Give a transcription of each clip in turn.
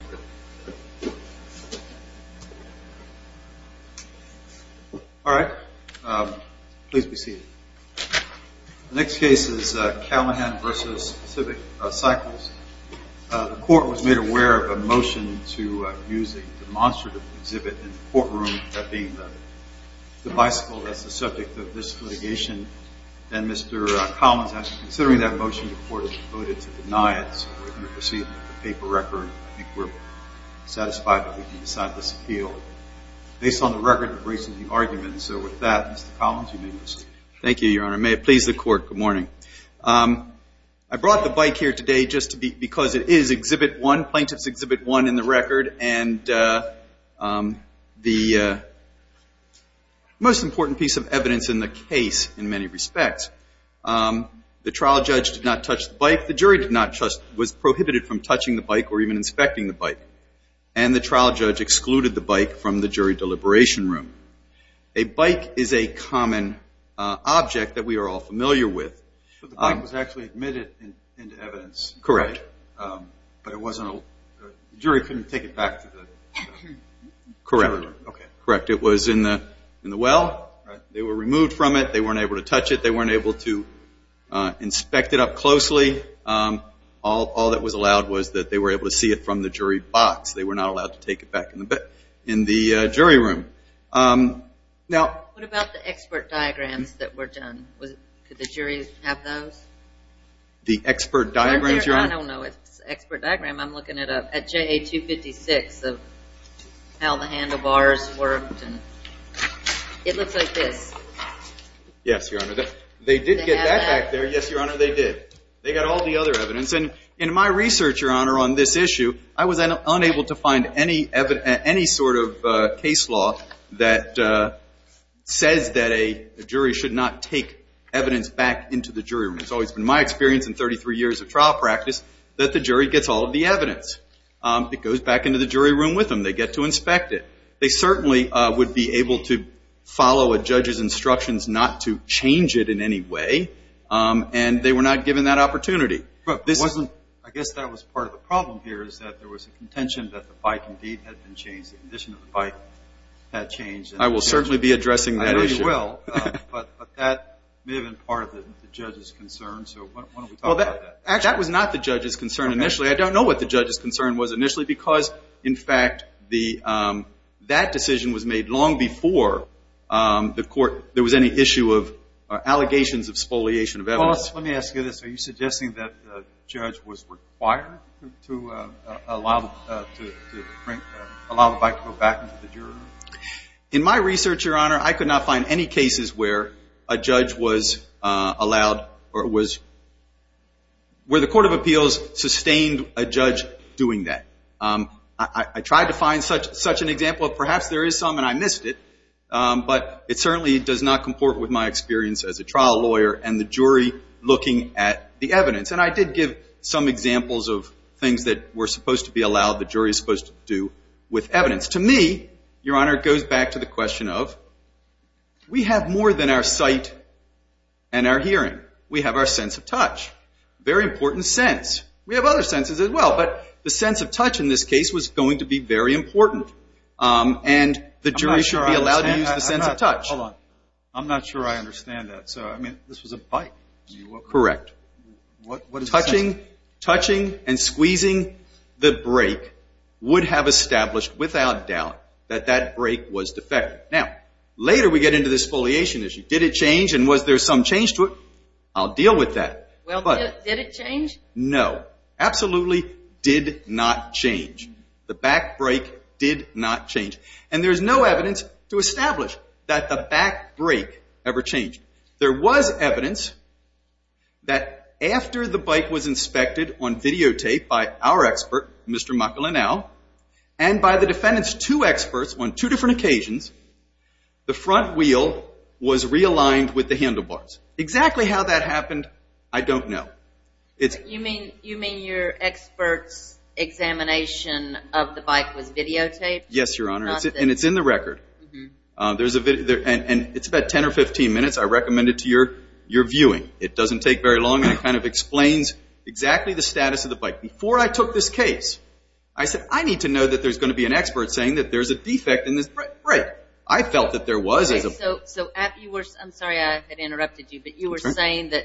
The Court was made aware of a motion to use a demonstrative exhibit in the courtroom, that being the bicycle that is the subject of this litigation, and Mr. Collins, considering that motion, the Court has voted to deny it, so we're going to proceed with the paper record. I think we're satisfied that we can decide this appeal based on the record of recent arguments. So with that, Mr. Collins, you may proceed. Thank you, Your Honor. May it please the Court. Good morning. I brought the bike here today just because it is Exhibit 1, Plaintiff's Exhibit 1 in the record, and the most important piece of evidence in the case in many respects. The trial judge did not touch the bike, the jury was prohibited from touching the bike or even inspecting the bike, and the trial judge excluded the bike from the jury deliberation room. A bike is a common object that we are all familiar with. But the bike was actually admitted into evidence. Correct. But the jury couldn't take it back to the jury. Correct. It was in the well. They were removed from it. They weren't able to touch it. They weren't able to inspect it up closely. All that was allowed was that they were able to see it from the jury box. They were not allowed to take it back in the jury room. What about the expert diagrams that were done? Could the jury have those? The expert diagrams? I don't know. It's an expert diagram. I'm looking it up. At JA-256, how the handlebars worked. It looks like this. Yes, Your Honor. They did get that back there. Yes, Your Honor. They did. They got all the other evidence. In my research, Your Honor, on this issue, I was unable to find any sort of case law that says that a jury should not take evidence back into the jury room. It's always been my experience in 33 years of trial practice that the jury gets all of the evidence. It goes back into the jury room with them. They get to inspect it. They certainly would be able to follow a judge's instructions not to change it in any way. They were not given that opportunity. I guess that was part of the problem here, is that there was a contention that the bike indeed had been changed. The condition of the bike had changed. I will certainly be addressing that issue. I know you will. That may have been part of the judge's concern, so why don't we talk about that? That was not the judge's concern initially. I don't know what the judge's concern was initially because, in fact, that decision was made long before there was any issue of allegations of spoliation of evidence. Let me ask you this. Are you suggesting that the judge was required to allow the bike to go back into the jury room? In my research, Your Honor, I could not find any cases where a judge was allowed or where the Court of Appeals sustained a judge doing that. I tried to find such an example. Perhaps there is some, and I missed it, but it certainly does not comport with my experience as a trial lawyer and the jury looking at the evidence. I did give some examples of things that were supposed to be allowed the jury was supposed to do with evidence. To me, Your Honor, it goes back to the question of we have more than our sight and our hearing. We have our sense of touch, a very important sense. We have other senses as well, but the sense of touch in this case was going to be very important and the jury should be allowed to use the sense of touch. Hold on. I'm not sure I understand that. So, I mean, this was a bike. Correct. What does that mean? Touching and squeezing the brake would have established without doubt that that brake was defective. Now, later we get into this spoliation issue. Did it change and was there some change to it? I'll deal with that. Well, did it change? No. Absolutely did not change. The back brake did not change. And there's no evidence to establish that the back brake ever changed. There was evidence that after the bike was inspected on videotape by our expert, Mr. McElinale, and by the defendant's two experts on two different occasions, the front wheel was realigned with the handlebars. Exactly how that happened, I don't know. You mean your expert's examination of the bike was videotaped? Yes, Your Honor. And it's in the record. And it's about 10 or 15 minutes. I recommend it to your viewing. It doesn't take very long and it kind of explains exactly the status of the bike. Before I took this case, I said, I need to know that there's going to be an expert saying that there's a defect in this brake. I felt that there was a defect. So I'm sorry I interrupted you, but you were saying that,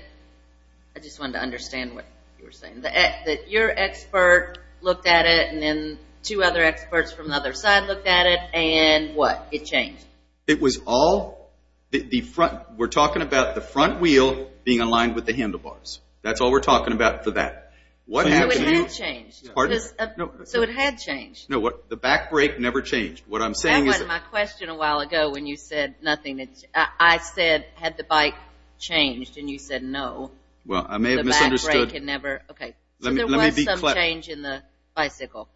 I just wanted to understand what you were saying, that your expert looked at it and then two other experts from the other side looked at it, and what, it changed? It was all, we're talking about the front wheel being aligned with the handlebars. That's all we're talking about for that. So it had changed? So it had changed? No, the back brake never changed. That wasn't my question a while ago when you said nothing, I said, had the bike changed? And you said no. Well, I may have misunderstood. The back brake had never, okay. So there was some change in the bicycle,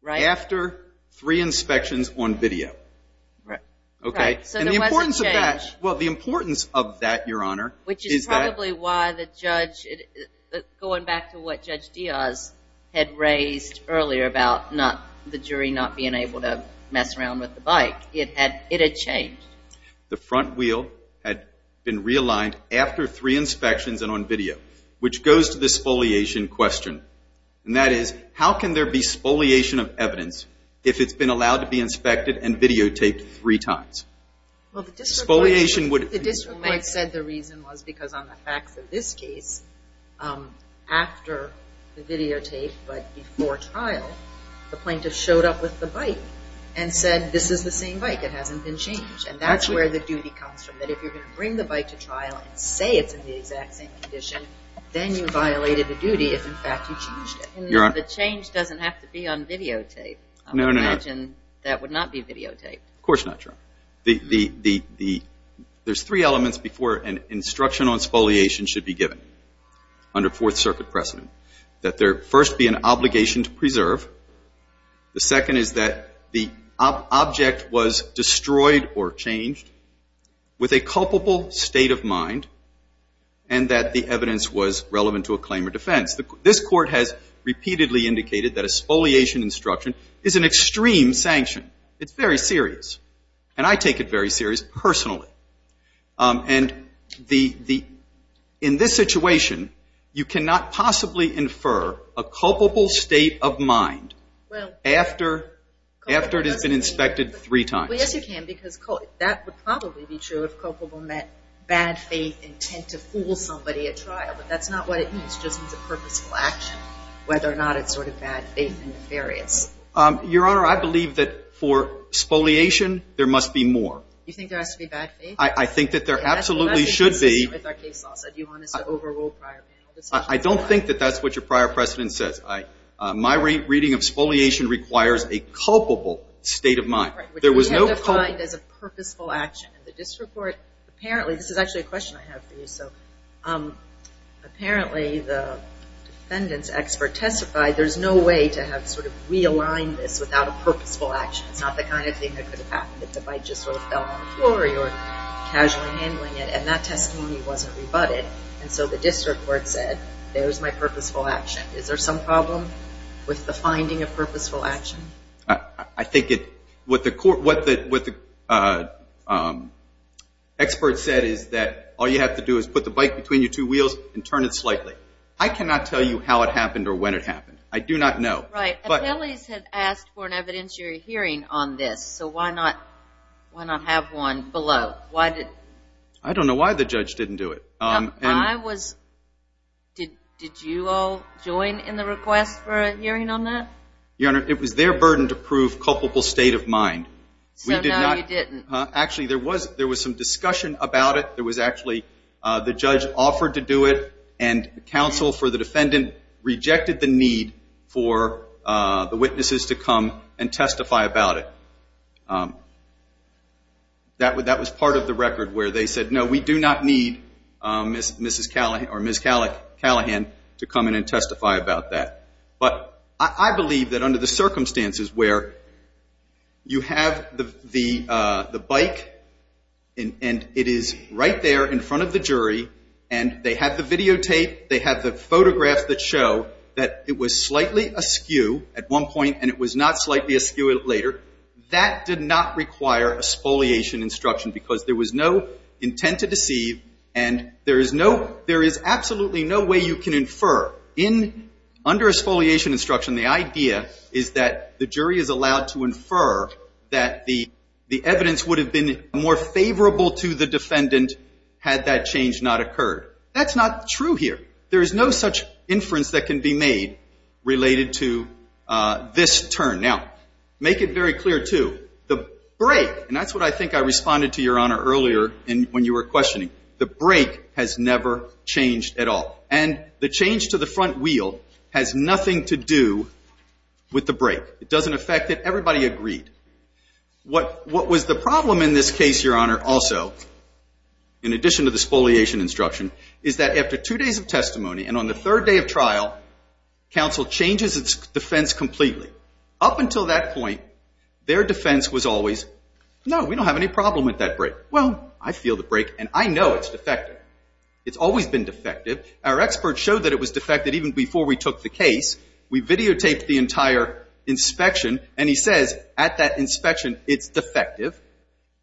right? After three inspections on video. Right. Okay. So there wasn't change. And the importance of that, well, the importance of that, Your Honor, is that. Which is probably why the judge, going back to what Judge Diaz had raised earlier about the jury not being able to mess around with the bike, it had changed. The front wheel had been realigned after three inspections and on video, which goes to the spoliation question, and that is, how can there be spoliation of evidence if it's been allowed to be inspected and videotaped three times? Spoliation would. The district court said the reason was because on the facts of this case, after the videotape, but before trial, the plaintiff showed up with the bike and said, this is the same bike. It hasn't been changed. And that's where the duty comes from. That if you're going to bring the bike to trial and say it's in the exact same condition, then you violated the duty if, in fact, you changed it. Your Honor. The change doesn't have to be on videotape. No, no, no. I would imagine that would not be videotaped. Of course not, Your Honor. There's three elements before an instruction on spoliation should be given under Fourth Circuit precedent. That there first be an obligation to preserve. The second is that the object was destroyed or changed with a culpable state of mind, and that the evidence was relevant to a claim or defense. This Court has repeatedly indicated that a spoliation instruction is an extreme sanction. It's very serious. And I take it very serious personally. And the, in this situation, you cannot possibly infer a culpable state of mind after it has been inspected three times. Well, yes, you can, because that would probably be true if culpable meant bad faith intent to fool somebody at trial, but that's not what it means. It just means a purposeful action, whether or not it's sort of bad faith and nefarious. Your Honor, I believe that for spoliation, there must be more. You think there has to be bad faith? I think that there absolutely should be. That's the message consistent with our case law. So do you want us to overrule prior panel discussions? I don't think that that's what your prior precedent says. My reading of spoliation requires a culpable state of mind. There was no culpable. Right, which is identified as a purposeful action. In the district court, apparently, this is actually a question I have for you, so, apparently the defendant's expert testified there's no way to have sort of realigned this without a purposeful action. It's not the kind of thing that could have happened if the bike just sort of fell on the floor, or you're casually handling it, and that testimony wasn't rebutted, and so the district court said, there's my purposeful action. Is there some problem with the finding of purposeful action? I think it, what the expert said is that all you have to do is put the bike between your two wheels and turn it slightly. I cannot tell you how it happened or when it happened. I do not know. Right. But. Attellies had asked for an evidentiary hearing on this, so why not have one below? Why did? I don't know why the judge didn't do it. I was, did you all join in the request for a hearing on that? Your Honor, it was their burden to prove culpable state of mind. So, no, you didn't. Actually, there was some discussion about it. There was actually, the judge offered to do it, and counsel for the defendant rejected the need for the witnesses to come and testify about it. That was part of the record where they said, no, we do not need Ms. Callahan to come in and testify about that. But I believe that under the circumstances where you have the bike, and it is right there in front of the jury, and they have the videotape, they have the photographs that show that it was slightly askew at one point, and it was not slightly askew later, that did not require exfoliation instruction because there was no intent to deceive, and there is no, there is absolutely no way you can infer in, under exfoliation instruction, the idea is that the jury is allowed to infer that the, the evidence would have been more favorable to the defendant had that change not occurred. That's not true here. There is no such inference that can be made related to this turn. Now, make it very clear, too. The brake, and that's what I think I responded to, Your Honor, earlier when you were questioning. The brake has never changed at all, and the change to the front wheel has nothing to do with the brake. It doesn't affect it. Everybody agreed. What, what was the problem in this case, Your Honor, also, in addition to the exfoliation instruction, is that after two days of testimony, and on the third day of trial, counsel changes its defense completely. Up until that point, their defense was always, no, we don't have any problem with that brake. Well, I feel the brake, and I know it's defective. It's always been defective. Our experts showed that it was defective even before we took the case. We videotaped the entire inspection, and he says, at that inspection, it's defective.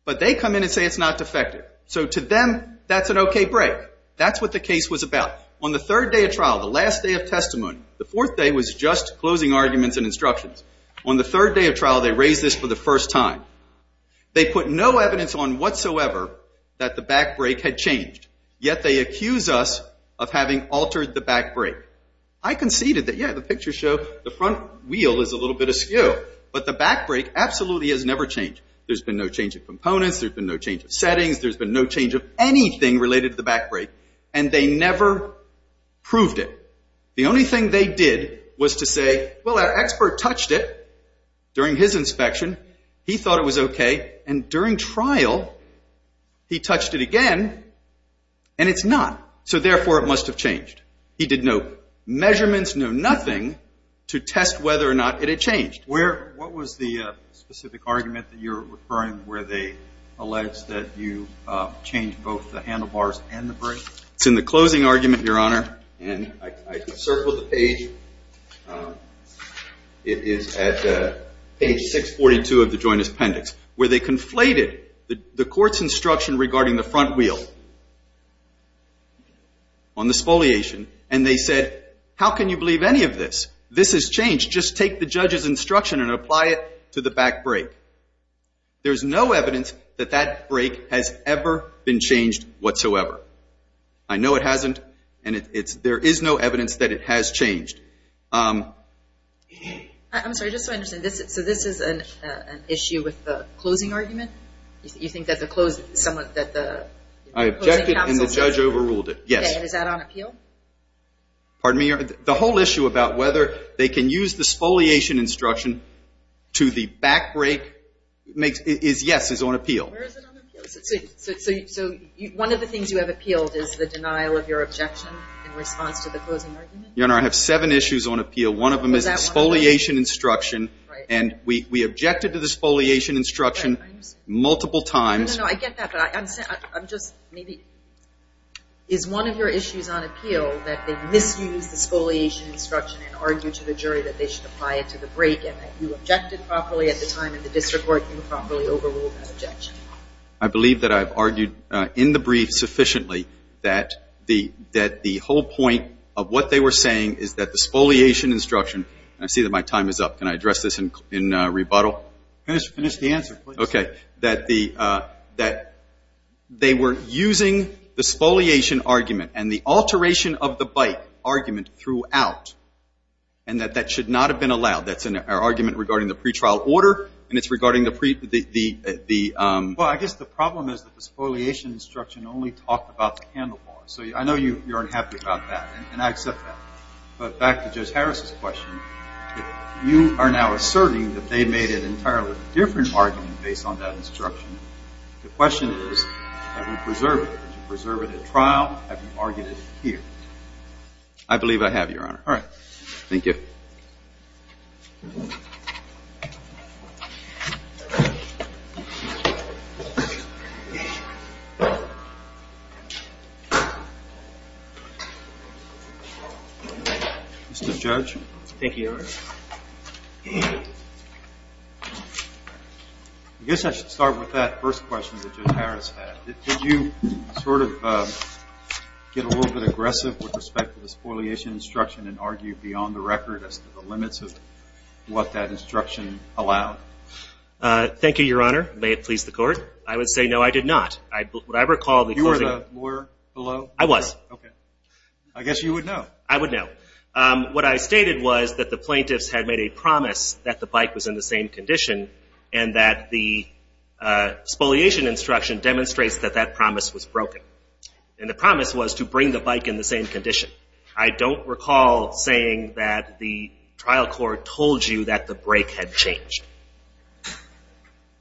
But they come in and say it's not defective. So to them, that's an okay brake. That's what the case was about. On the third day of trial, the last day of testimony, the fourth day was just closing arguments and instructions. On the third day of trial, they raised this for the first time. They put no evidence on whatsoever that the back brake had changed, yet they accuse us of having altered the back brake. I conceded that, yeah, the pictures show the front wheel is a little bit askew, but the back brake absolutely has never changed. There's been no change of components. There's been no change of settings. There's been no change of anything related to the back brake, and they never proved it. The only thing they did was to say, well, our expert touched it during his inspection. He thought it was okay, and during trial, he touched it again, and it's not. So therefore, it must have changed. He did no measurements, no nothing, to test whether or not it had changed. What was the specific argument that you're referring, where they allege that you changed both the handlebars and the brake? It's in the closing argument, Your Honor, and I circled the page. It is at page 642 of the joint appendix, where they conflated the court's instruction regarding the front wheel on the exfoliation, and they said, how can you believe any of this? This has changed. Just take the judge's instruction and apply it to the back brake. There's no evidence that that brake has ever been changed whatsoever. I know it hasn't, and there is no evidence that it has changed. I'm sorry, just so I understand, so this is an issue with the closing argument? You think that the closing counsel's instruction? I objected, and the judge overruled it, yes. Okay, and is that on appeal? Pardon me, Your Honor, the whole issue about whether they can use the exfoliation instruction to the back brake, yes, is on appeal. Where is it on appeal? So one of the things you have appealed is the denial of your objection in response to the closing argument? Your Honor, I have seven issues on appeal. One of them is exfoliation instruction, and we objected to the exfoliation instruction. Multiple times. No, no, I get that, but I'm just, maybe, is one of your issues on appeal that they misused the exfoliation instruction and argued to the jury that they should apply it to the brake and that you objected properly at the time and the district court improperly overruled that objection? I believe that I've argued in the brief sufficiently that the whole point of what they were saying is that the exfoliation instruction, and I see that my time is up, can I address this in rebuttal? Finish the answer, please. Okay. That the, that they were using the exfoliation argument and the alteration of the bike argument throughout, and that that should not have been allowed. That's an argument regarding the pretrial order, and it's regarding the pre, the, the, the, um. Well, I guess the problem is that the exfoliation instruction only talked about the handlebar, so I know you're unhappy about that, and I accept that, but back to Judge Harris's question, you are now asserting that they made an entirely different argument based on that instruction. The question is, have you preserved it? Did you preserve it at trial? Have you argued it here? I believe I have, Your Honor. All right. Thank you. Mr. Judge. Thank you, Your Honor. I guess I should start with that first question that Judge Harris had. Did you sort of get a little bit aggressive with respect to the exfoliation instruction and argue beyond the record as to the limits of what that instruction allowed? Thank you, Your Honor. May it please the Court. I would say no, I did not. I, what I recall the closing. You were the lawyer below? I was. Okay. I guess you would know. I would know. What I stated was that the plaintiffs had made a promise that the bike was in the same condition and that the exfoliation instruction demonstrates that that promise was broken, and the promise was to bring the bike in the same condition. I don't recall saying that the trial court told you that the brake had changed.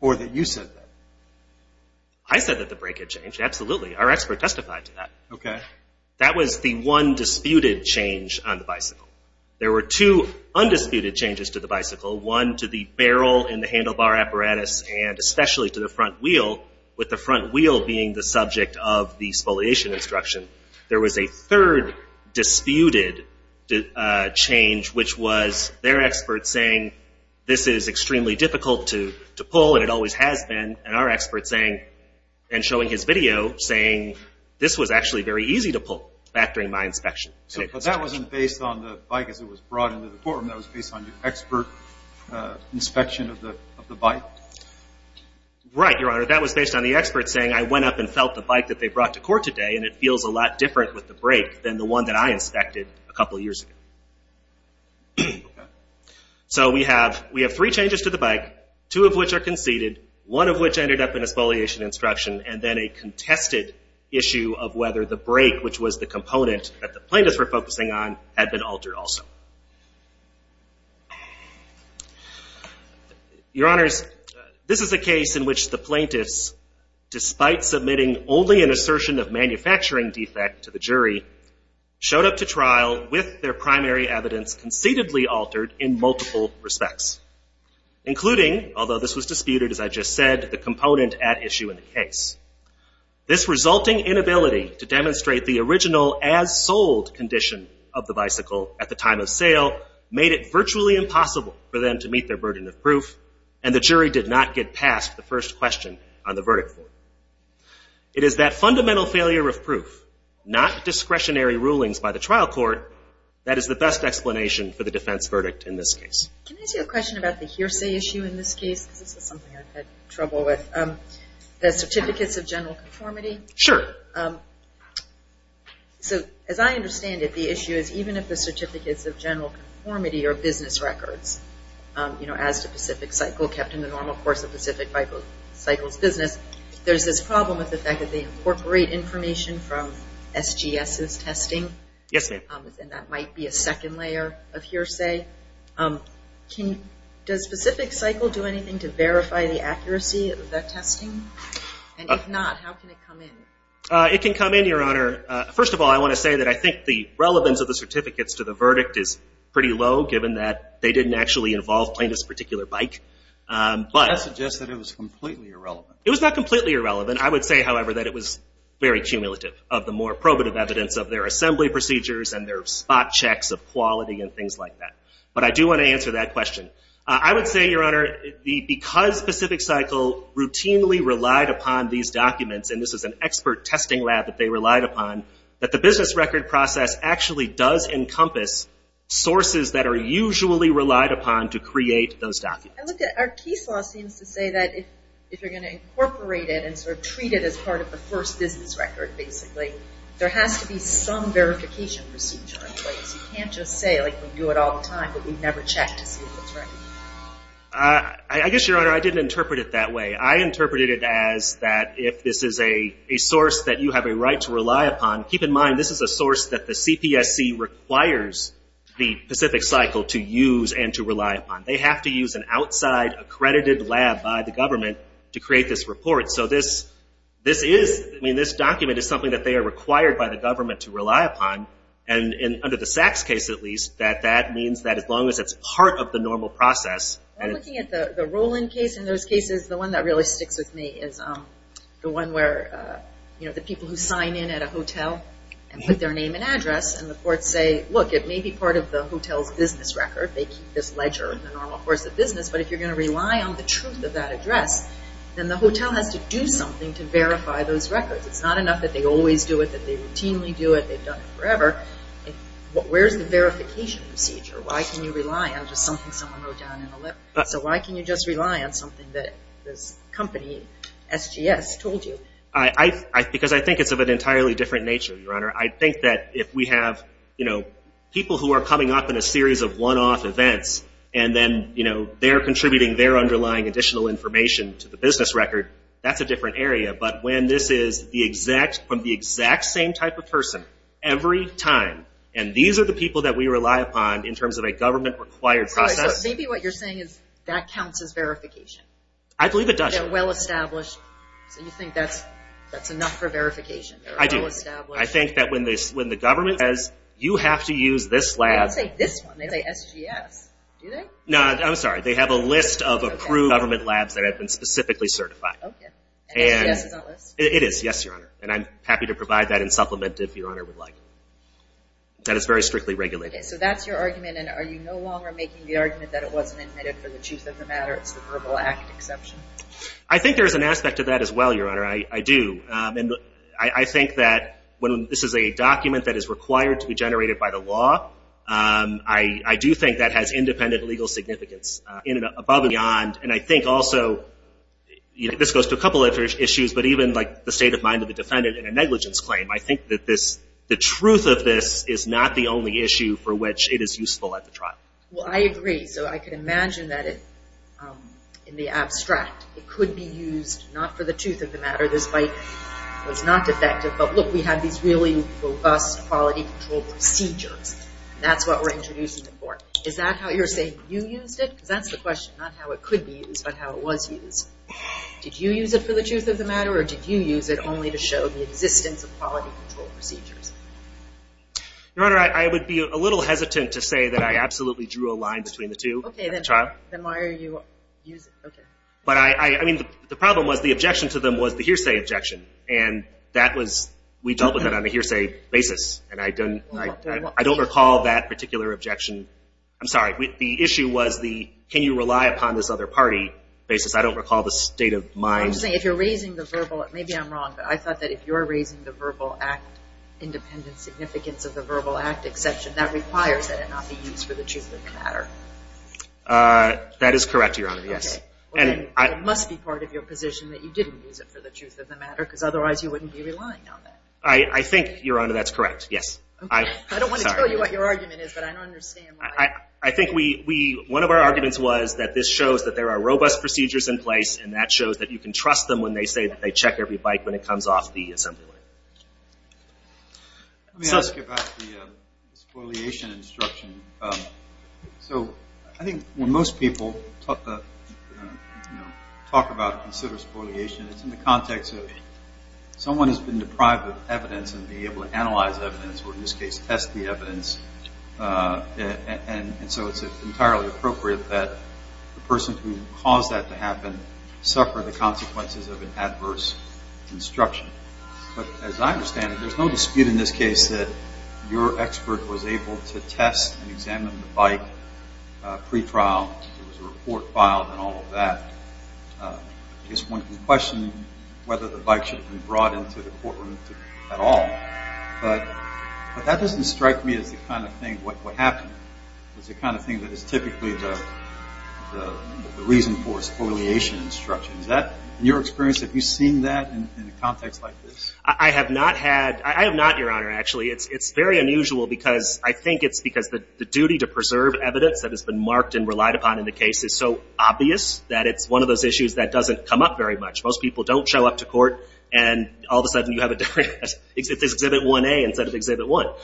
Or that you said that. I said that the brake had changed, absolutely. Our expert testified to that. Okay. That was the one disputed change on the bicycle. There were two undisputed changes to the bicycle, one to the barrel in the handlebar apparatus and especially to the front wheel, with the front wheel being the subject of the exfoliation instruction. There was a third disputed change, which was their expert saying this is extremely difficult to pull and it always has been, and our expert saying, and showing his video, saying this was actually very easy to pull back during my inspection. But that wasn't based on the bike as it was brought into the courtroom. That was based on your expert inspection of the bike? Right, Your Honor. That was based on the expert saying I went up and felt the bike that they brought to court today and it feels a lot different with the brake than the one that I inspected a couple years ago. So we have three changes to the bike, two of which are conceded, one of which ended up in exfoliation instruction, and then a contested issue of whether the brake, which was the component that the plaintiffs were focusing on, had been altered also. Your Honors, this is a case in which the plaintiffs, despite submitting only an assertion of manufacturing defect to the jury, showed up to trial with their primary evidence concededly altered in multiple respects, including, although this was disputed, as I just said, the component at issue in the case. This resulting inability to demonstrate the original as-sold condition of the bicycle at the time of sale made it virtually impossible for them to meet their burden of proof, and the jury did not get past the first question on the verdict form. It is that fundamental failure of proof, not discretionary rulings by the trial court, that is the best explanation for the defense verdict in this case. Can I ask you a question about the hearsay issue in this case? This is something I've had trouble with. The certificates of general conformity? Sure. As I understand it, the issue is even if the certificates of general conformity are business records, as to Pacific Cycle kept in the normal course of Pacific Cycle's business, there's this problem with the fact that they incorporate information from SGS's testing. Yes, ma'am. That might be a second layer of hearsay. Does Pacific Cycle do anything to verify the accuracy of that testing? And if not, how can it come in? It can come in, Your Honor. First of all, I want to say that I think the relevance of the certificates to the verdict is pretty low, given that they didn't actually involve plaintiff's particular bike. That suggests that it was completely irrelevant. It was not completely irrelevant. I would say, however, that it was very cumulative, of the more probative evidence of their assembly procedures and their spot checks of quality and things like that. But I do want to answer that question. I would say, Your Honor, because Pacific Cycle routinely relied upon these documents, and this is an expert testing lab that they relied upon, that the business record process actually does encompass sources that are usually relied upon to create those documents. I looked at our case law, it seems to say that if you're going to incorporate it and sort of treat it as part of the first business record, basically, there has to be some verification procedure in place. You can't just say, like, we do it all the time, but we never check to see if it's right. I guess, Your Honor, I didn't interpret it that way. I interpreted it as that if this is a source that you have a right to rely upon, keep in mind this is a source that the CPSC requires the Pacific Cycle to use and to rely upon. They have to use an outside accredited lab by the government to create this report. So this is, I mean, this document is something that they are required by the government to rely upon, and under the Sachs case, at least, that that means that as long as it's part of the normal process. I'm looking at the Roland case, and those cases, the one that really sticks with me is the one where, you know, the people who sign in at a hotel and put their name and address, and the courts say, look, it may be part of the hotel's business record. They keep this ledger in the normal course of business, but if you're going to rely on the truth of that address, then the hotel has to do something to verify those records. It's not enough that they always do it, that they routinely do it, they've done it forever. Where's the verification procedure? Why can you rely on just something someone wrote down in a letter? So why can you just rely on something that this company, SGS, told you? Because I think it's of an entirely different nature, Your Honor. I think that if we have, you know, people who are coming up in a series of one-off events, and then, you know, they're contributing their underlying additional information to the business record, that's a different area. But when this is from the exact same type of person every time, and these are the people that we rely upon in terms of a government-required process. So maybe what you're saying is that counts as verification. I believe it does. They're well-established, so you think that's enough for verification. I do. They're well-established. I think that when the government says, you have to use this lab. They don't say this one, they say SGS, do they? No, I'm sorry, they have a list of approved government labs that have been specifically certified. Okay. And SGS is on the list? It is, yes, Your Honor. And I'm happy to provide that in supplement if Your Honor would like. That is very strictly regulated. Okay, so that's your argument, and are you no longer making the argument that it wasn't admitted for the truth of the matter, it's the Verbal Act exception? I think there's an aspect to that as well, Your Honor, I do. And I think that when this is a document that is required to be generated by the law, I do think that has independent legal significance in and above and beyond. And I think also, this goes to a couple of other issues, but even like the state of mind of the defendant in a negligence claim, I think that the truth of this is not the only issue for which it is useful at the trial. Well, I agree. So I can imagine that in the abstract it could be used not for the truth of the matter, despite it was not defective, but look, we have these really robust quality control procedures. That's what we're introducing it for. Is that how you're saying you used it? Because that's the question, not how it could be used, but how it was used. Did you use it for the truth of the matter, or did you use it only to show the existence of quality control procedures? Your Honor, I would be a little hesitant to say that I absolutely drew a line between the two. Okay, then why are you using it? But I mean, the problem was the objection to them was the hearsay objection, and we dealt with that on a hearsay basis, and I don't recall that particular objection. I'm sorry. The issue was the can you rely upon this other party basis. I don't recall the state of mind. I'm saying if you're raising the verbal, maybe I'm wrong, but I thought that if you're raising the verbal act independent significance of the verbal act exception, that requires that it not be used for the truth of the matter. That is correct, Your Honor, yes. Okay. It must be part of your position that you didn't use it for the truth of the matter, because otherwise you wouldn't be relying on that. I think, Your Honor, that's correct, yes. I don't want to tell you what your argument is, but I don't understand why. I think one of our arguments was that this shows that there are robust procedures in place, and that shows that you can trust them when they say that they check every bike when it comes off the assembly line. Let me ask you about the spoliation instruction. So I think when most people talk about and consider spoliation, it's in the context of someone has been deprived of evidence and being able to analyze evidence, or in this case test the evidence, and so it's entirely appropriate that the person who caused that to happen suffer the consequences of an adverse instruction. But as I understand it, there's no dispute in this case that your expert was able to test and examine the bike pretrial, there was a report filed and all of that. I guess one can question whether the bike should have been brought into the courtroom at all. But that doesn't strike me as the kind of thing what happened. It's the kind of thing that is typically the reason for spoliation instruction. Is that, in your experience, have you seen that in a context like this? I have not, Your Honor, actually. It's very unusual because I think it's because the duty to preserve evidence that has been marked and relied upon in the case is so obvious that it's one of those issues that doesn't come up very much. Most people don't show up to court and all of a sudden you have a different case. It's Exhibit 1A instead of Exhibit 1.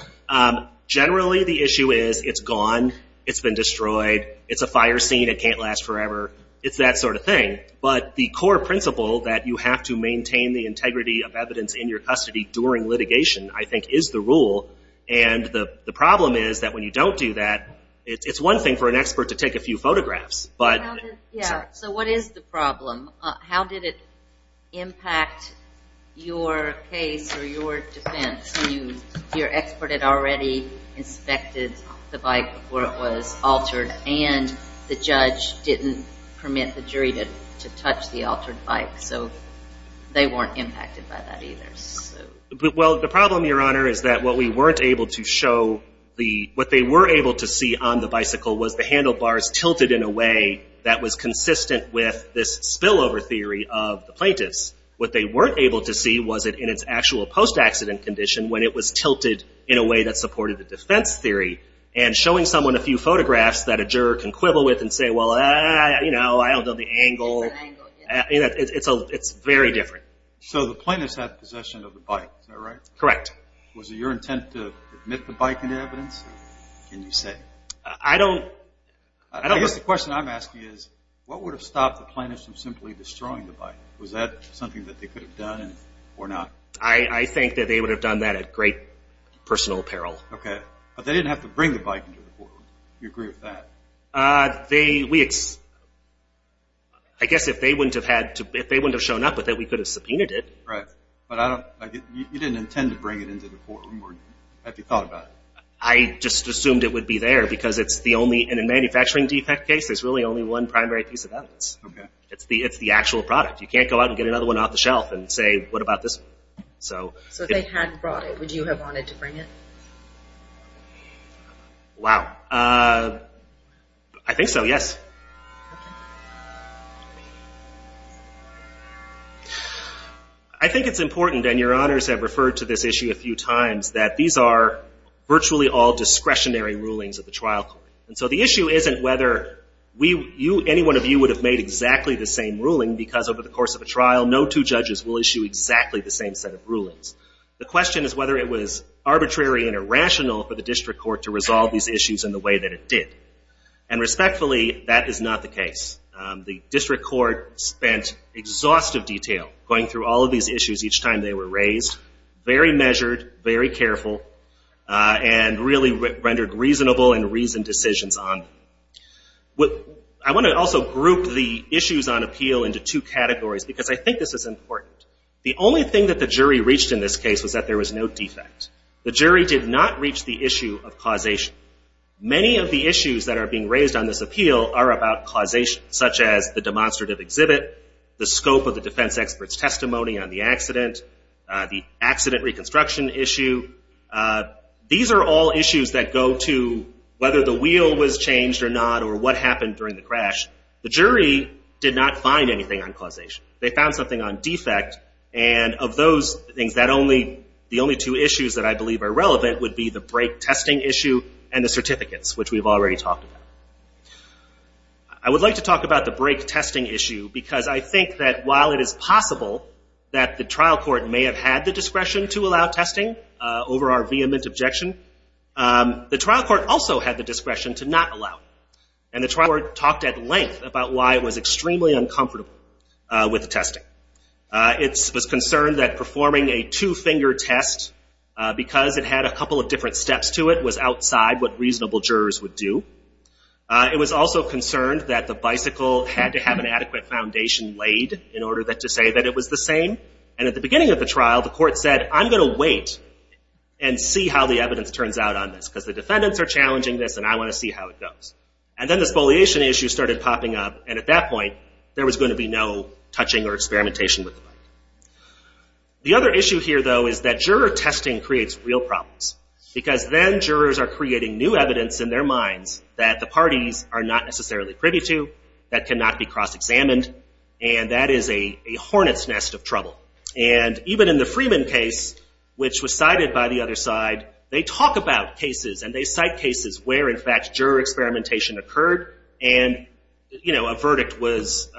Generally, the issue is it's gone, it's been destroyed, it's a fire scene, it can't last forever. It's that sort of thing. But the core principle that you have to maintain the integrity of evidence in your custody during litigation, I think, is the rule. And the problem is that when you don't do that, it's one thing for an expert to take a few photographs. So what is the problem? How did it impact your case or your defense? Your expert had already inspected the bike before it was altered and the judge didn't permit the jury to touch the altered bike. So they weren't impacted by that either. Well, the problem, Your Honor, is that what we weren't able to show, what they were able to see on the bicycle was the handlebars tilted in a way that was consistent with this spillover theory of the plaintiff's. What they weren't able to see was it in its actual post-accident condition when it was tilted in a way that supported the defense theory. And showing someone a few photographs that a juror can quibble with and say, well, you know, I don't know the angle, it's very different. So the plaintiff's had possession of the bike, is that right? Correct. Was it your intent to admit the bike into evidence? Can you say? I don't know. I guess the question I'm asking is what would have stopped the plaintiff from simply destroying the bike? Was that something that they could have done or not? I think that they would have done that at great personal peril. Okay. But they didn't have to bring the bike into the courtroom. Do you agree with that? I guess if they wouldn't have shown up with it, we could have subpoenaed it. Right. But you didn't intend to bring it into the courtroom or have you thought about it? I just assumed it would be there because in a manufacturing defect case, there's really only one primary piece of evidence. Okay. It's the actual product. You can't go out and get another one off the shelf and say, what about this one? So if they had brought it, would you have wanted to bring it? Wow. I think so, yes. I think it's important, and your honors have referred to this issue a few times, that these are virtually all discretionary rulings of the trial court. And so the issue isn't whether any one of you would have made exactly the same ruling because over the course of a trial, no two judges will issue exactly the same set of rulings. The question is whether it was arbitrary and irrational for the district court to resolve these issues in the way that it did. And respectfully, that is not the case. The district court spent exhaustive detail going through all of these issues each time they were raised, very measured, very careful, and really rendered reasonable and reasoned decisions on them. I want to also group the issues on appeal into two categories because I think this is important. The only thing that the jury reached in this case was that there was no defect. The jury did not reach the issue of causation. Many of the issues that are being raised on this appeal are about causation, such as the demonstrative exhibit, the scope of the defense expert's testimony on the accident, the accident reconstruction issue. These are all issues that go to whether the wheel was changed or not or what happened during the crash. The jury did not find anything on causation. They found something on defect. And of those things, the only two issues that I believe are relevant would be the brake testing issue and the certificates, which we've already talked about. I would like to talk about the brake testing issue because I think that while it is possible that the trial court may have had the discretion to allow testing over our vehement objection, the trial court also had the discretion to not allow it. And the trial court talked at length about why it was extremely uncomfortable with the testing. It was concerned that performing a two-finger test, because it had a couple of different steps to it, was outside what reasonable jurors would do. It was also concerned that the bicycle had to have an adequate foundation laid in order to say that it was the same. And at the beginning of the trial, the court said, I'm going to wait and see how the evidence turns out on this because the defendants are challenging this, and I want to see how it goes. And then the spoliation issue started popping up, and at that point, there was going to be no touching or experimentation with the bike. The other issue here, though, is that juror testing creates real problems because then jurors are creating new evidence in their minds that the parties are not necessarily privy to, that cannot be cross-examined, and that is a hornet's nest of trouble. And even in the Freeman case, which was cited by the other side, they talk about cases and they cite cases where, in fact, juror experimentation occurred, and a verdict was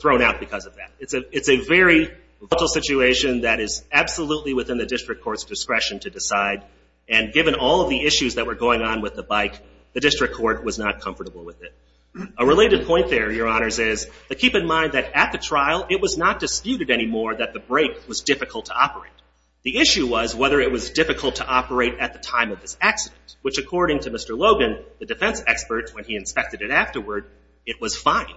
thrown out because of that. It's a very volatile situation that is absolutely within the district court's discretion to decide, and given all of the issues that were going on with the bike, the district court was not comfortable with it. A related point there, Your Honors, is to keep in mind that at the trial, it was not disputed anymore that the brake was difficult to operate. The issue was whether it was difficult to operate at the time of this accident, which according to Mr. Logan, the defense expert, when he inspected it afterward, it was fine.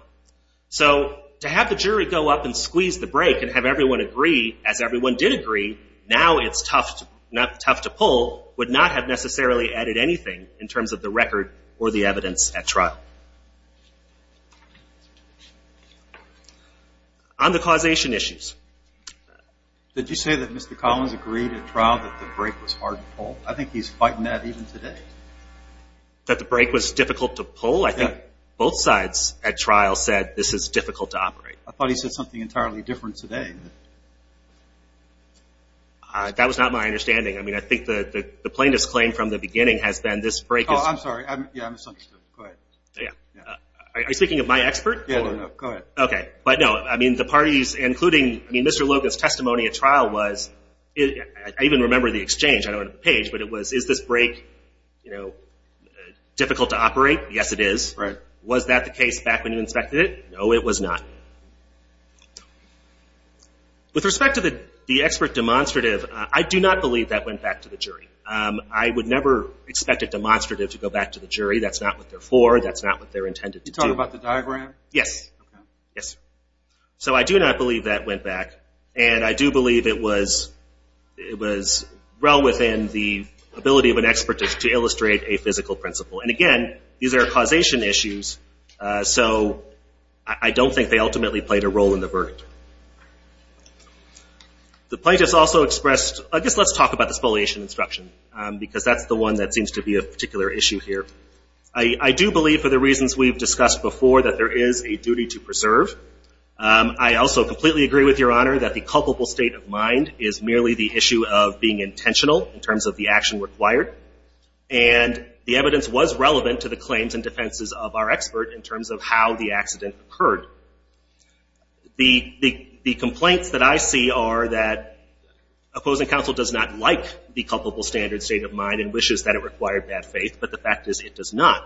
So to have the jury go up and squeeze the brake and have everyone agree, as everyone did agree, now it's tough to pull would not have necessarily added anything in terms of the record or the evidence at trial. On the causation issues. Did you say that Mr. Collins agreed at trial that the brake was hard to pull? I think he's fighting that even today. That the brake was difficult to pull? Yeah. I think both sides at trial said this is difficult to operate. I thought he said something entirely different today. That was not my understanding. I mean, I think the plain disclaim from the beginning has been this brake is – Oh, I'm sorry. Yeah, I misunderstood. Go ahead. Yeah. Are you speaking of my expert? Yeah, no, no. Go ahead. Okay. But, no, I mean, the parties, including – I mean, Mr. Logan's testimony at trial was – I even remember the exchange. I don't have the page, but it was, is this brake, you know, difficult to operate? Yes, it is. Right. Was that the case back when you inspected it? No, it was not. With respect to the expert demonstrative, I do not believe that went back to the jury. I would never expect a demonstrative to go back to the jury. That's not what they're for. That's not what they're intended to do. Are you talking about the diagram? Yes. Okay. Yes. So I do not believe that went back, and I do believe it was well within the ability of an expert to illustrate a physical principle. And, again, these are causation issues. So I don't think they ultimately played a role in the verdict. The plaintiffs also expressed – I guess let's talk about the spoliation instruction, because that's the one that seems to be a particular issue here. I do believe, for the reasons we've discussed before, that there is a duty to preserve. I also completely agree with Your Honor that the culpable state of mind is merely the issue of being intentional in terms of the action required. And the evidence was relevant to the claims and defenses of our expert in terms of how the accident occurred. The complaints that I see are that opposing counsel does not like the culpable standard state of mind and wishes that it required bad faith, but the fact is it does not.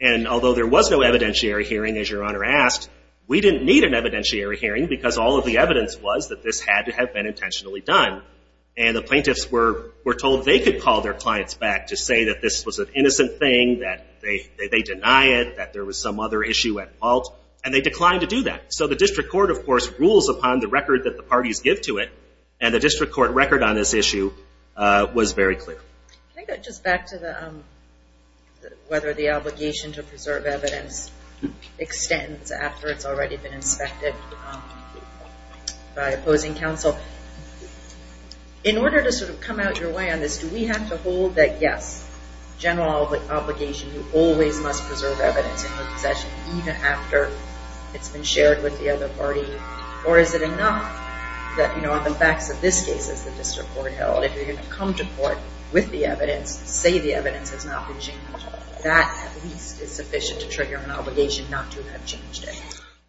And although there was no evidentiary hearing, as Your Honor asked, we didn't need an evidentiary hearing because all of the evidence was that this had to have been intentionally done. And the plaintiffs were told they could call their clients back to say that this was an innocent thing, that they deny it, that there was some other issue at fault, and they declined to do that. So the district court, of course, rules upon the record that the parties give to it, and the district court record on this issue was very clear. Can I go just back to whether the obligation to preserve evidence extends after it's already been inspected by opposing counsel? In order to sort of come out your way on this, do we have to hold that, yes, general obligation, you always must preserve evidence in your possession even after it's been shared with the other party? Or is it enough that, you know, on the facts of this case, as the district court held, that if you're going to come to court with the evidence, say the evidence has not been changed, that at least is sufficient to trigger an obligation not to have changed it?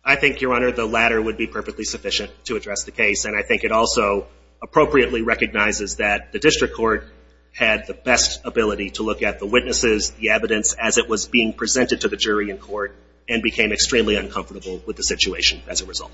I think, Your Honor, the latter would be perfectly sufficient to address the case, and I think it also appropriately recognizes that the district court had the best ability to look at the witnesses, the evidence, as it was being presented to the jury in court and became extremely uncomfortable with the situation as a result.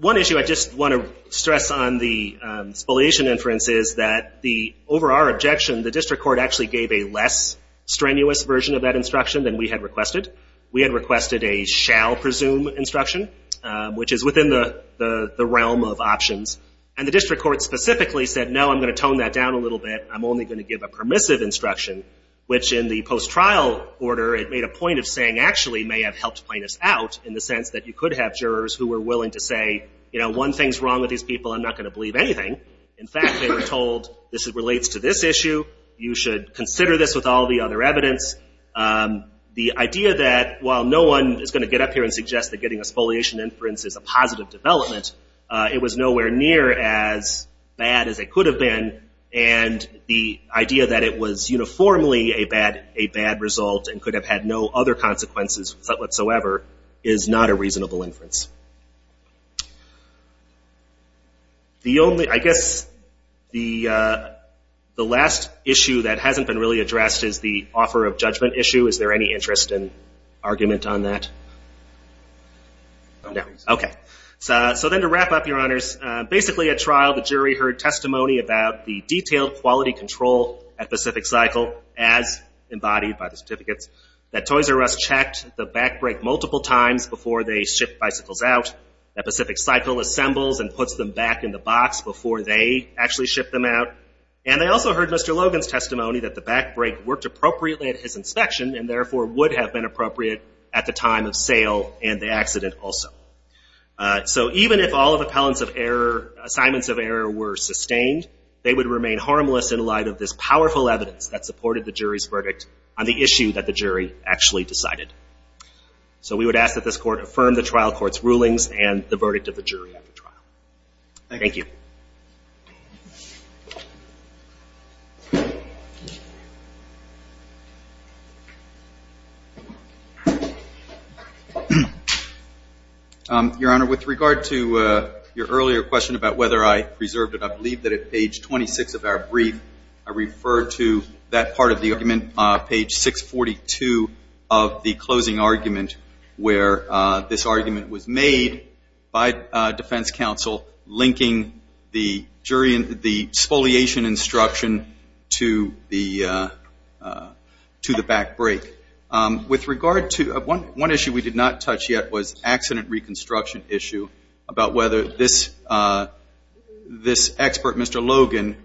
One issue I just want to stress on the spoliation inference is that over our objection, the district court actually gave a less strenuous version of that instruction than we had requested. We had requested a shall presume instruction, which is within the realm of options, and the district court specifically said, no, I'm going to tone that down a little bit. I'm only going to give a permissive instruction, which in the post-trial order, it made a point of saying actually may have helped plaintiffs out in the sense that you could have jurors who were willing to say, you know, one thing's wrong with these people. I'm not going to believe anything. In fact, they were told this relates to this issue. You should consider this with all the other evidence. The idea that while no one is going to get up here and suggest that getting a spoliation inference is a positive development, it was nowhere near as bad as it could have been, and the idea that it was uniformly a bad result and could have had no other consequences whatsoever is not a reasonable inference. I guess the last issue that hasn't been really addressed is the offer of judgment issue. Is there any interest in argument on that? No. Okay. So then to wrap up, Your Honors, basically at trial the jury heard testimony about the detailed quality control at Pacific Cycle as embodied by the certificates that Toys R Us checked the back brake multiple times before they shipped bicycles out, that Pacific Cycle assembles and puts them back in the box before they actually ship them out, and they also heard Mr. Logan's testimony that the back brake worked appropriately at his inspection and therefore would have been appropriate at the time of sale and the accident also. So even if all of the assignments of error were sustained, they would remain harmless in light of this powerful evidence that supported the jury's verdict on the issue that the jury actually decided. So we would ask that this court affirm the trial court's rulings and the verdict of the jury at the trial. Thank you. Your Honor, with regard to your earlier question about whether I preserved it, I believe that at page 26 of our brief I referred to that part of the argument, page 642 of the closing argument where this argument was made by defense counsel linking the spoliation instruction to the back brake. With regard to one issue we did not touch yet was accident reconstruction issue, about whether this expert, Mr. Logan,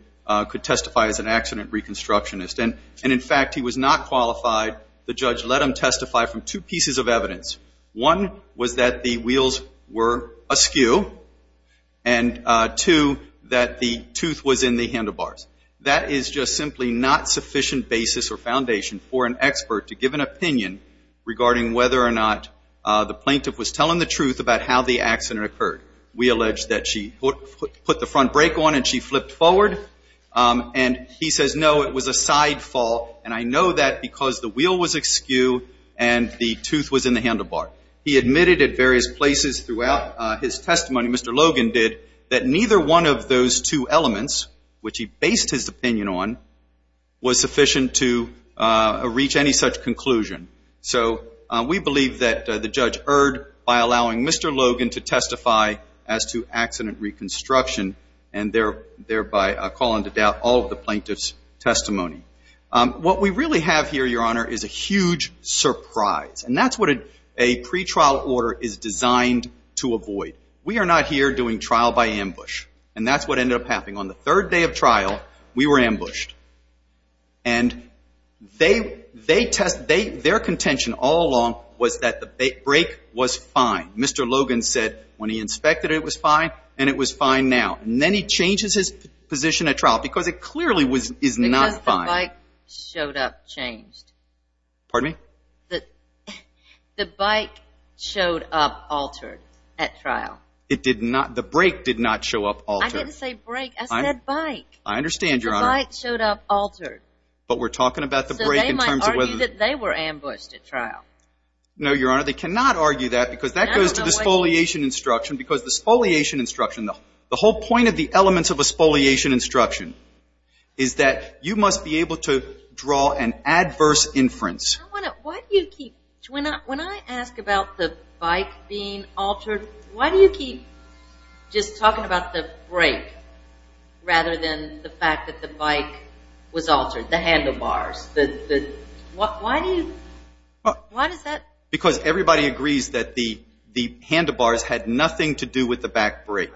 could testify as an accident reconstructionist. And, in fact, he was not qualified. The judge let him testify from two pieces of evidence. One was that the wheels were askew and, two, that the tooth was in the handlebars. That is just simply not sufficient basis or foundation for an expert to give an opinion regarding whether or not the plaintiff was telling the truth about how the accident occurred. We allege that she put the front brake on and she flipped forward. And he says, no, it was a side fall. And I know that because the wheel was askew and the tooth was in the handlebar. He admitted at various places throughout his testimony, Mr. Logan did, that neither one of those two elements, which he based his opinion on, was sufficient to reach any such conclusion. So we believe that the judge erred by allowing Mr. Logan to testify as to accident reconstruction and thereby calling to doubt all of the plaintiff's testimony. What we really have here, Your Honor, is a huge surprise. And that's what a pretrial order is designed to avoid. We are not here doing trial by ambush. And that's what ended up happening. On the third day of trial, we were ambushed. And their contention all along was that the brake was fine. Mr. Logan said when he inspected it, it was fine, and it was fine now. And then he changes his position at trial because it clearly is not fine. Because the bike showed up changed. Pardon me? The bike showed up altered at trial. It did not. The brake did not show up altered. I didn't say brake. I said bike. I understand, Your Honor. The bike showed up altered. But we're talking about the brake in terms of whether. So they might argue that they were ambushed at trial. No, Your Honor. They cannot argue that because that goes to the spoliation instruction. Because the spoliation instruction, the whole point of the elements of a spoliation instruction, is that you must be able to draw an adverse inference. Why do you keep – when I ask about the bike being altered, why do you keep just talking about the brake rather than the fact that the bike was altered, the handlebars? Why do you – why does that? Because everybody agrees that the handlebars had nothing to do with the back brake,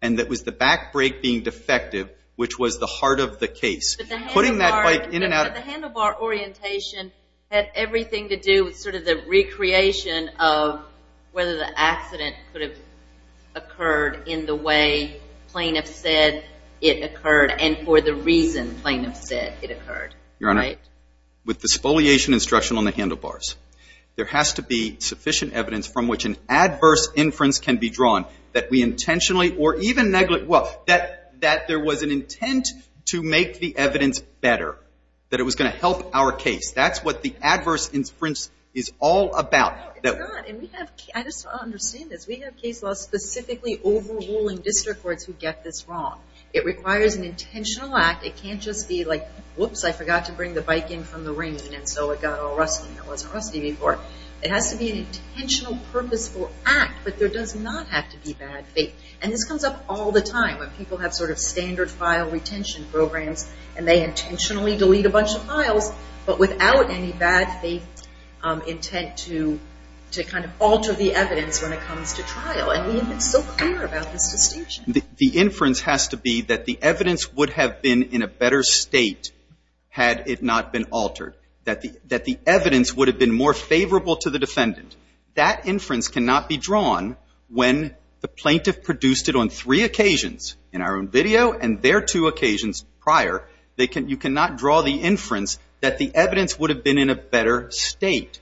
and that was the back brake being defective, which was the heart of the case. But the handlebar orientation had everything to do with sort of the recreation of whether the accident could have occurred in the way plaintiff said it occurred and for the reason plaintiff said it occurred. Your Honor, with the spoliation instruction on the handlebars, there has to be sufficient evidence from which an adverse inference can be drawn that we intentionally or even – well, that there was an intent to make the evidence better, that it was going to help our case. That's what the adverse inference is all about. No, it's not. And we have – I just don't understand this. We have case laws specifically overruling district courts who get this wrong. It requires an intentional act. It can't just be like, whoops, I forgot to bring the bike in from the rain, and so it got all rusty and it wasn't rusty before. It has to be an intentional purposeful act, but there does not have to be bad faith. And this comes up all the time when people have sort of standard file retention programs and they intentionally delete a bunch of files but without any bad faith intent to kind of alter the evidence when it comes to trial, and we have been so clear about this distinction. The inference has to be that the evidence would have been in a better state had it not been altered, that the evidence would have been more favorable to the defendant. That inference cannot be drawn when the plaintiff produced it on three occasions, in our own video and their two occasions prior. You cannot draw the inference that the evidence would have been in a better state.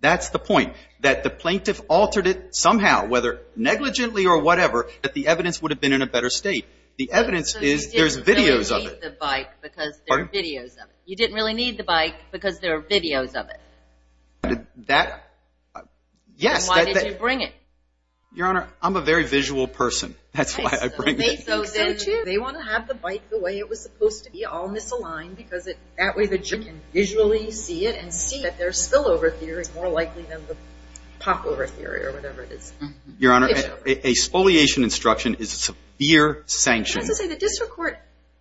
That's the point, that the plaintiff altered it somehow, whether negligently or whatever, that the evidence would have been in a better state. The evidence is there's videos of it. So you didn't really need the bike because there are videos of it. You didn't really need the bike because there are videos of it. That, yes. Then why did you bring it? Your Honor, I'm a very visual person. That's why I bring it. So then they want to have the bike the way it was supposed to be, all misaligned, because that way the judge can visually see it and see that their spillover theory is more likely than the popover theory or whatever it is. Your Honor, a spoliation instruction is a severe sanction. As I say, the district court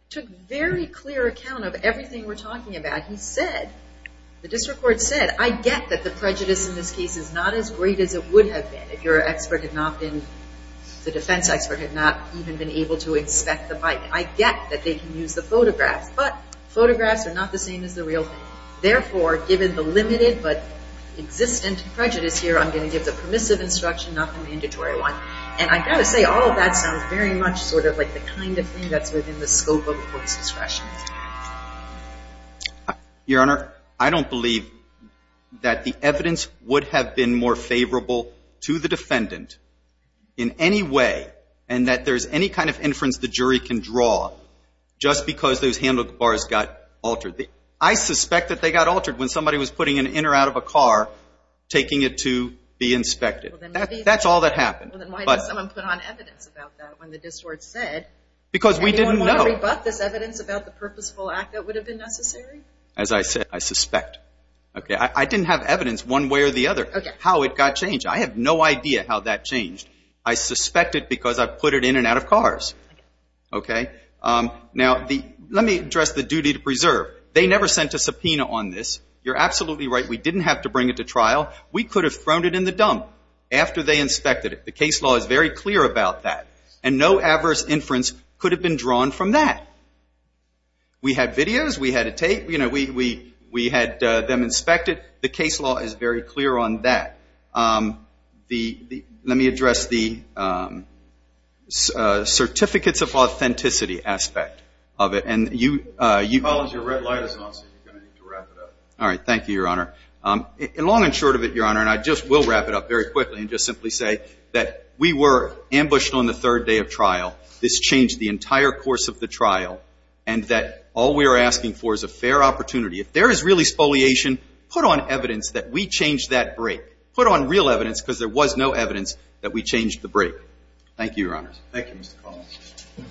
took very clear account of everything we're talking about. He said, the district court said, I get that the prejudice in this case is not as great as it would have been if your expert had not been, the defense expert, had not even been able to inspect the bike. I get that they can use the photographs, but photographs are not the same as the real thing. Therefore, given the limited but existent prejudice here, I'm going to give the permissive instruction, not the mandatory one. And I've got to say, all of that sounds very much sort of like the kind of thing that's within the scope of the court's discretion. Your Honor, I don't believe that the evidence would have been more favorable to the defendant in any way and that there's any kind of inference the jury can draw just because those handbook bars got altered. I suspect that they got altered when somebody was putting an inner out of a car, taking it to be inspected. That's all that happened. Then why did someone put on evidence about that when the district court said? Because we didn't know. Did anyone want to rebut this evidence about the purposeful act that would have been necessary? As I said, I suspect. I didn't have evidence one way or the other how it got changed. I have no idea how that changed. I suspect it because I put it in and out of cars. Now, let me address the duty to preserve. They never sent a subpoena on this. You're absolutely right. We didn't have to bring it to trial. We could have thrown it in the dump after they inspected it. The case law is very clear about that. And no adverse inference could have been drawn from that. We had videos. We had a tape. We had them inspected. The case law is very clear on that. Let me address the certificates of authenticity aspect of it. Your red light is on, so you're going to need to wrap it up. All right. Thank you, Your Honor. Long and short of it, Your Honor, and I just will wrap it up very quickly and just simply say that we were ambushed on the third day of trial. This changed the entire course of the trial and that all we are asking for is a fair opportunity. If there is really spoliation, put on evidence that we changed that break. Put on real evidence because there was no evidence that we changed the break. Thank you, Your Honor. Thank you, Mr. Collins.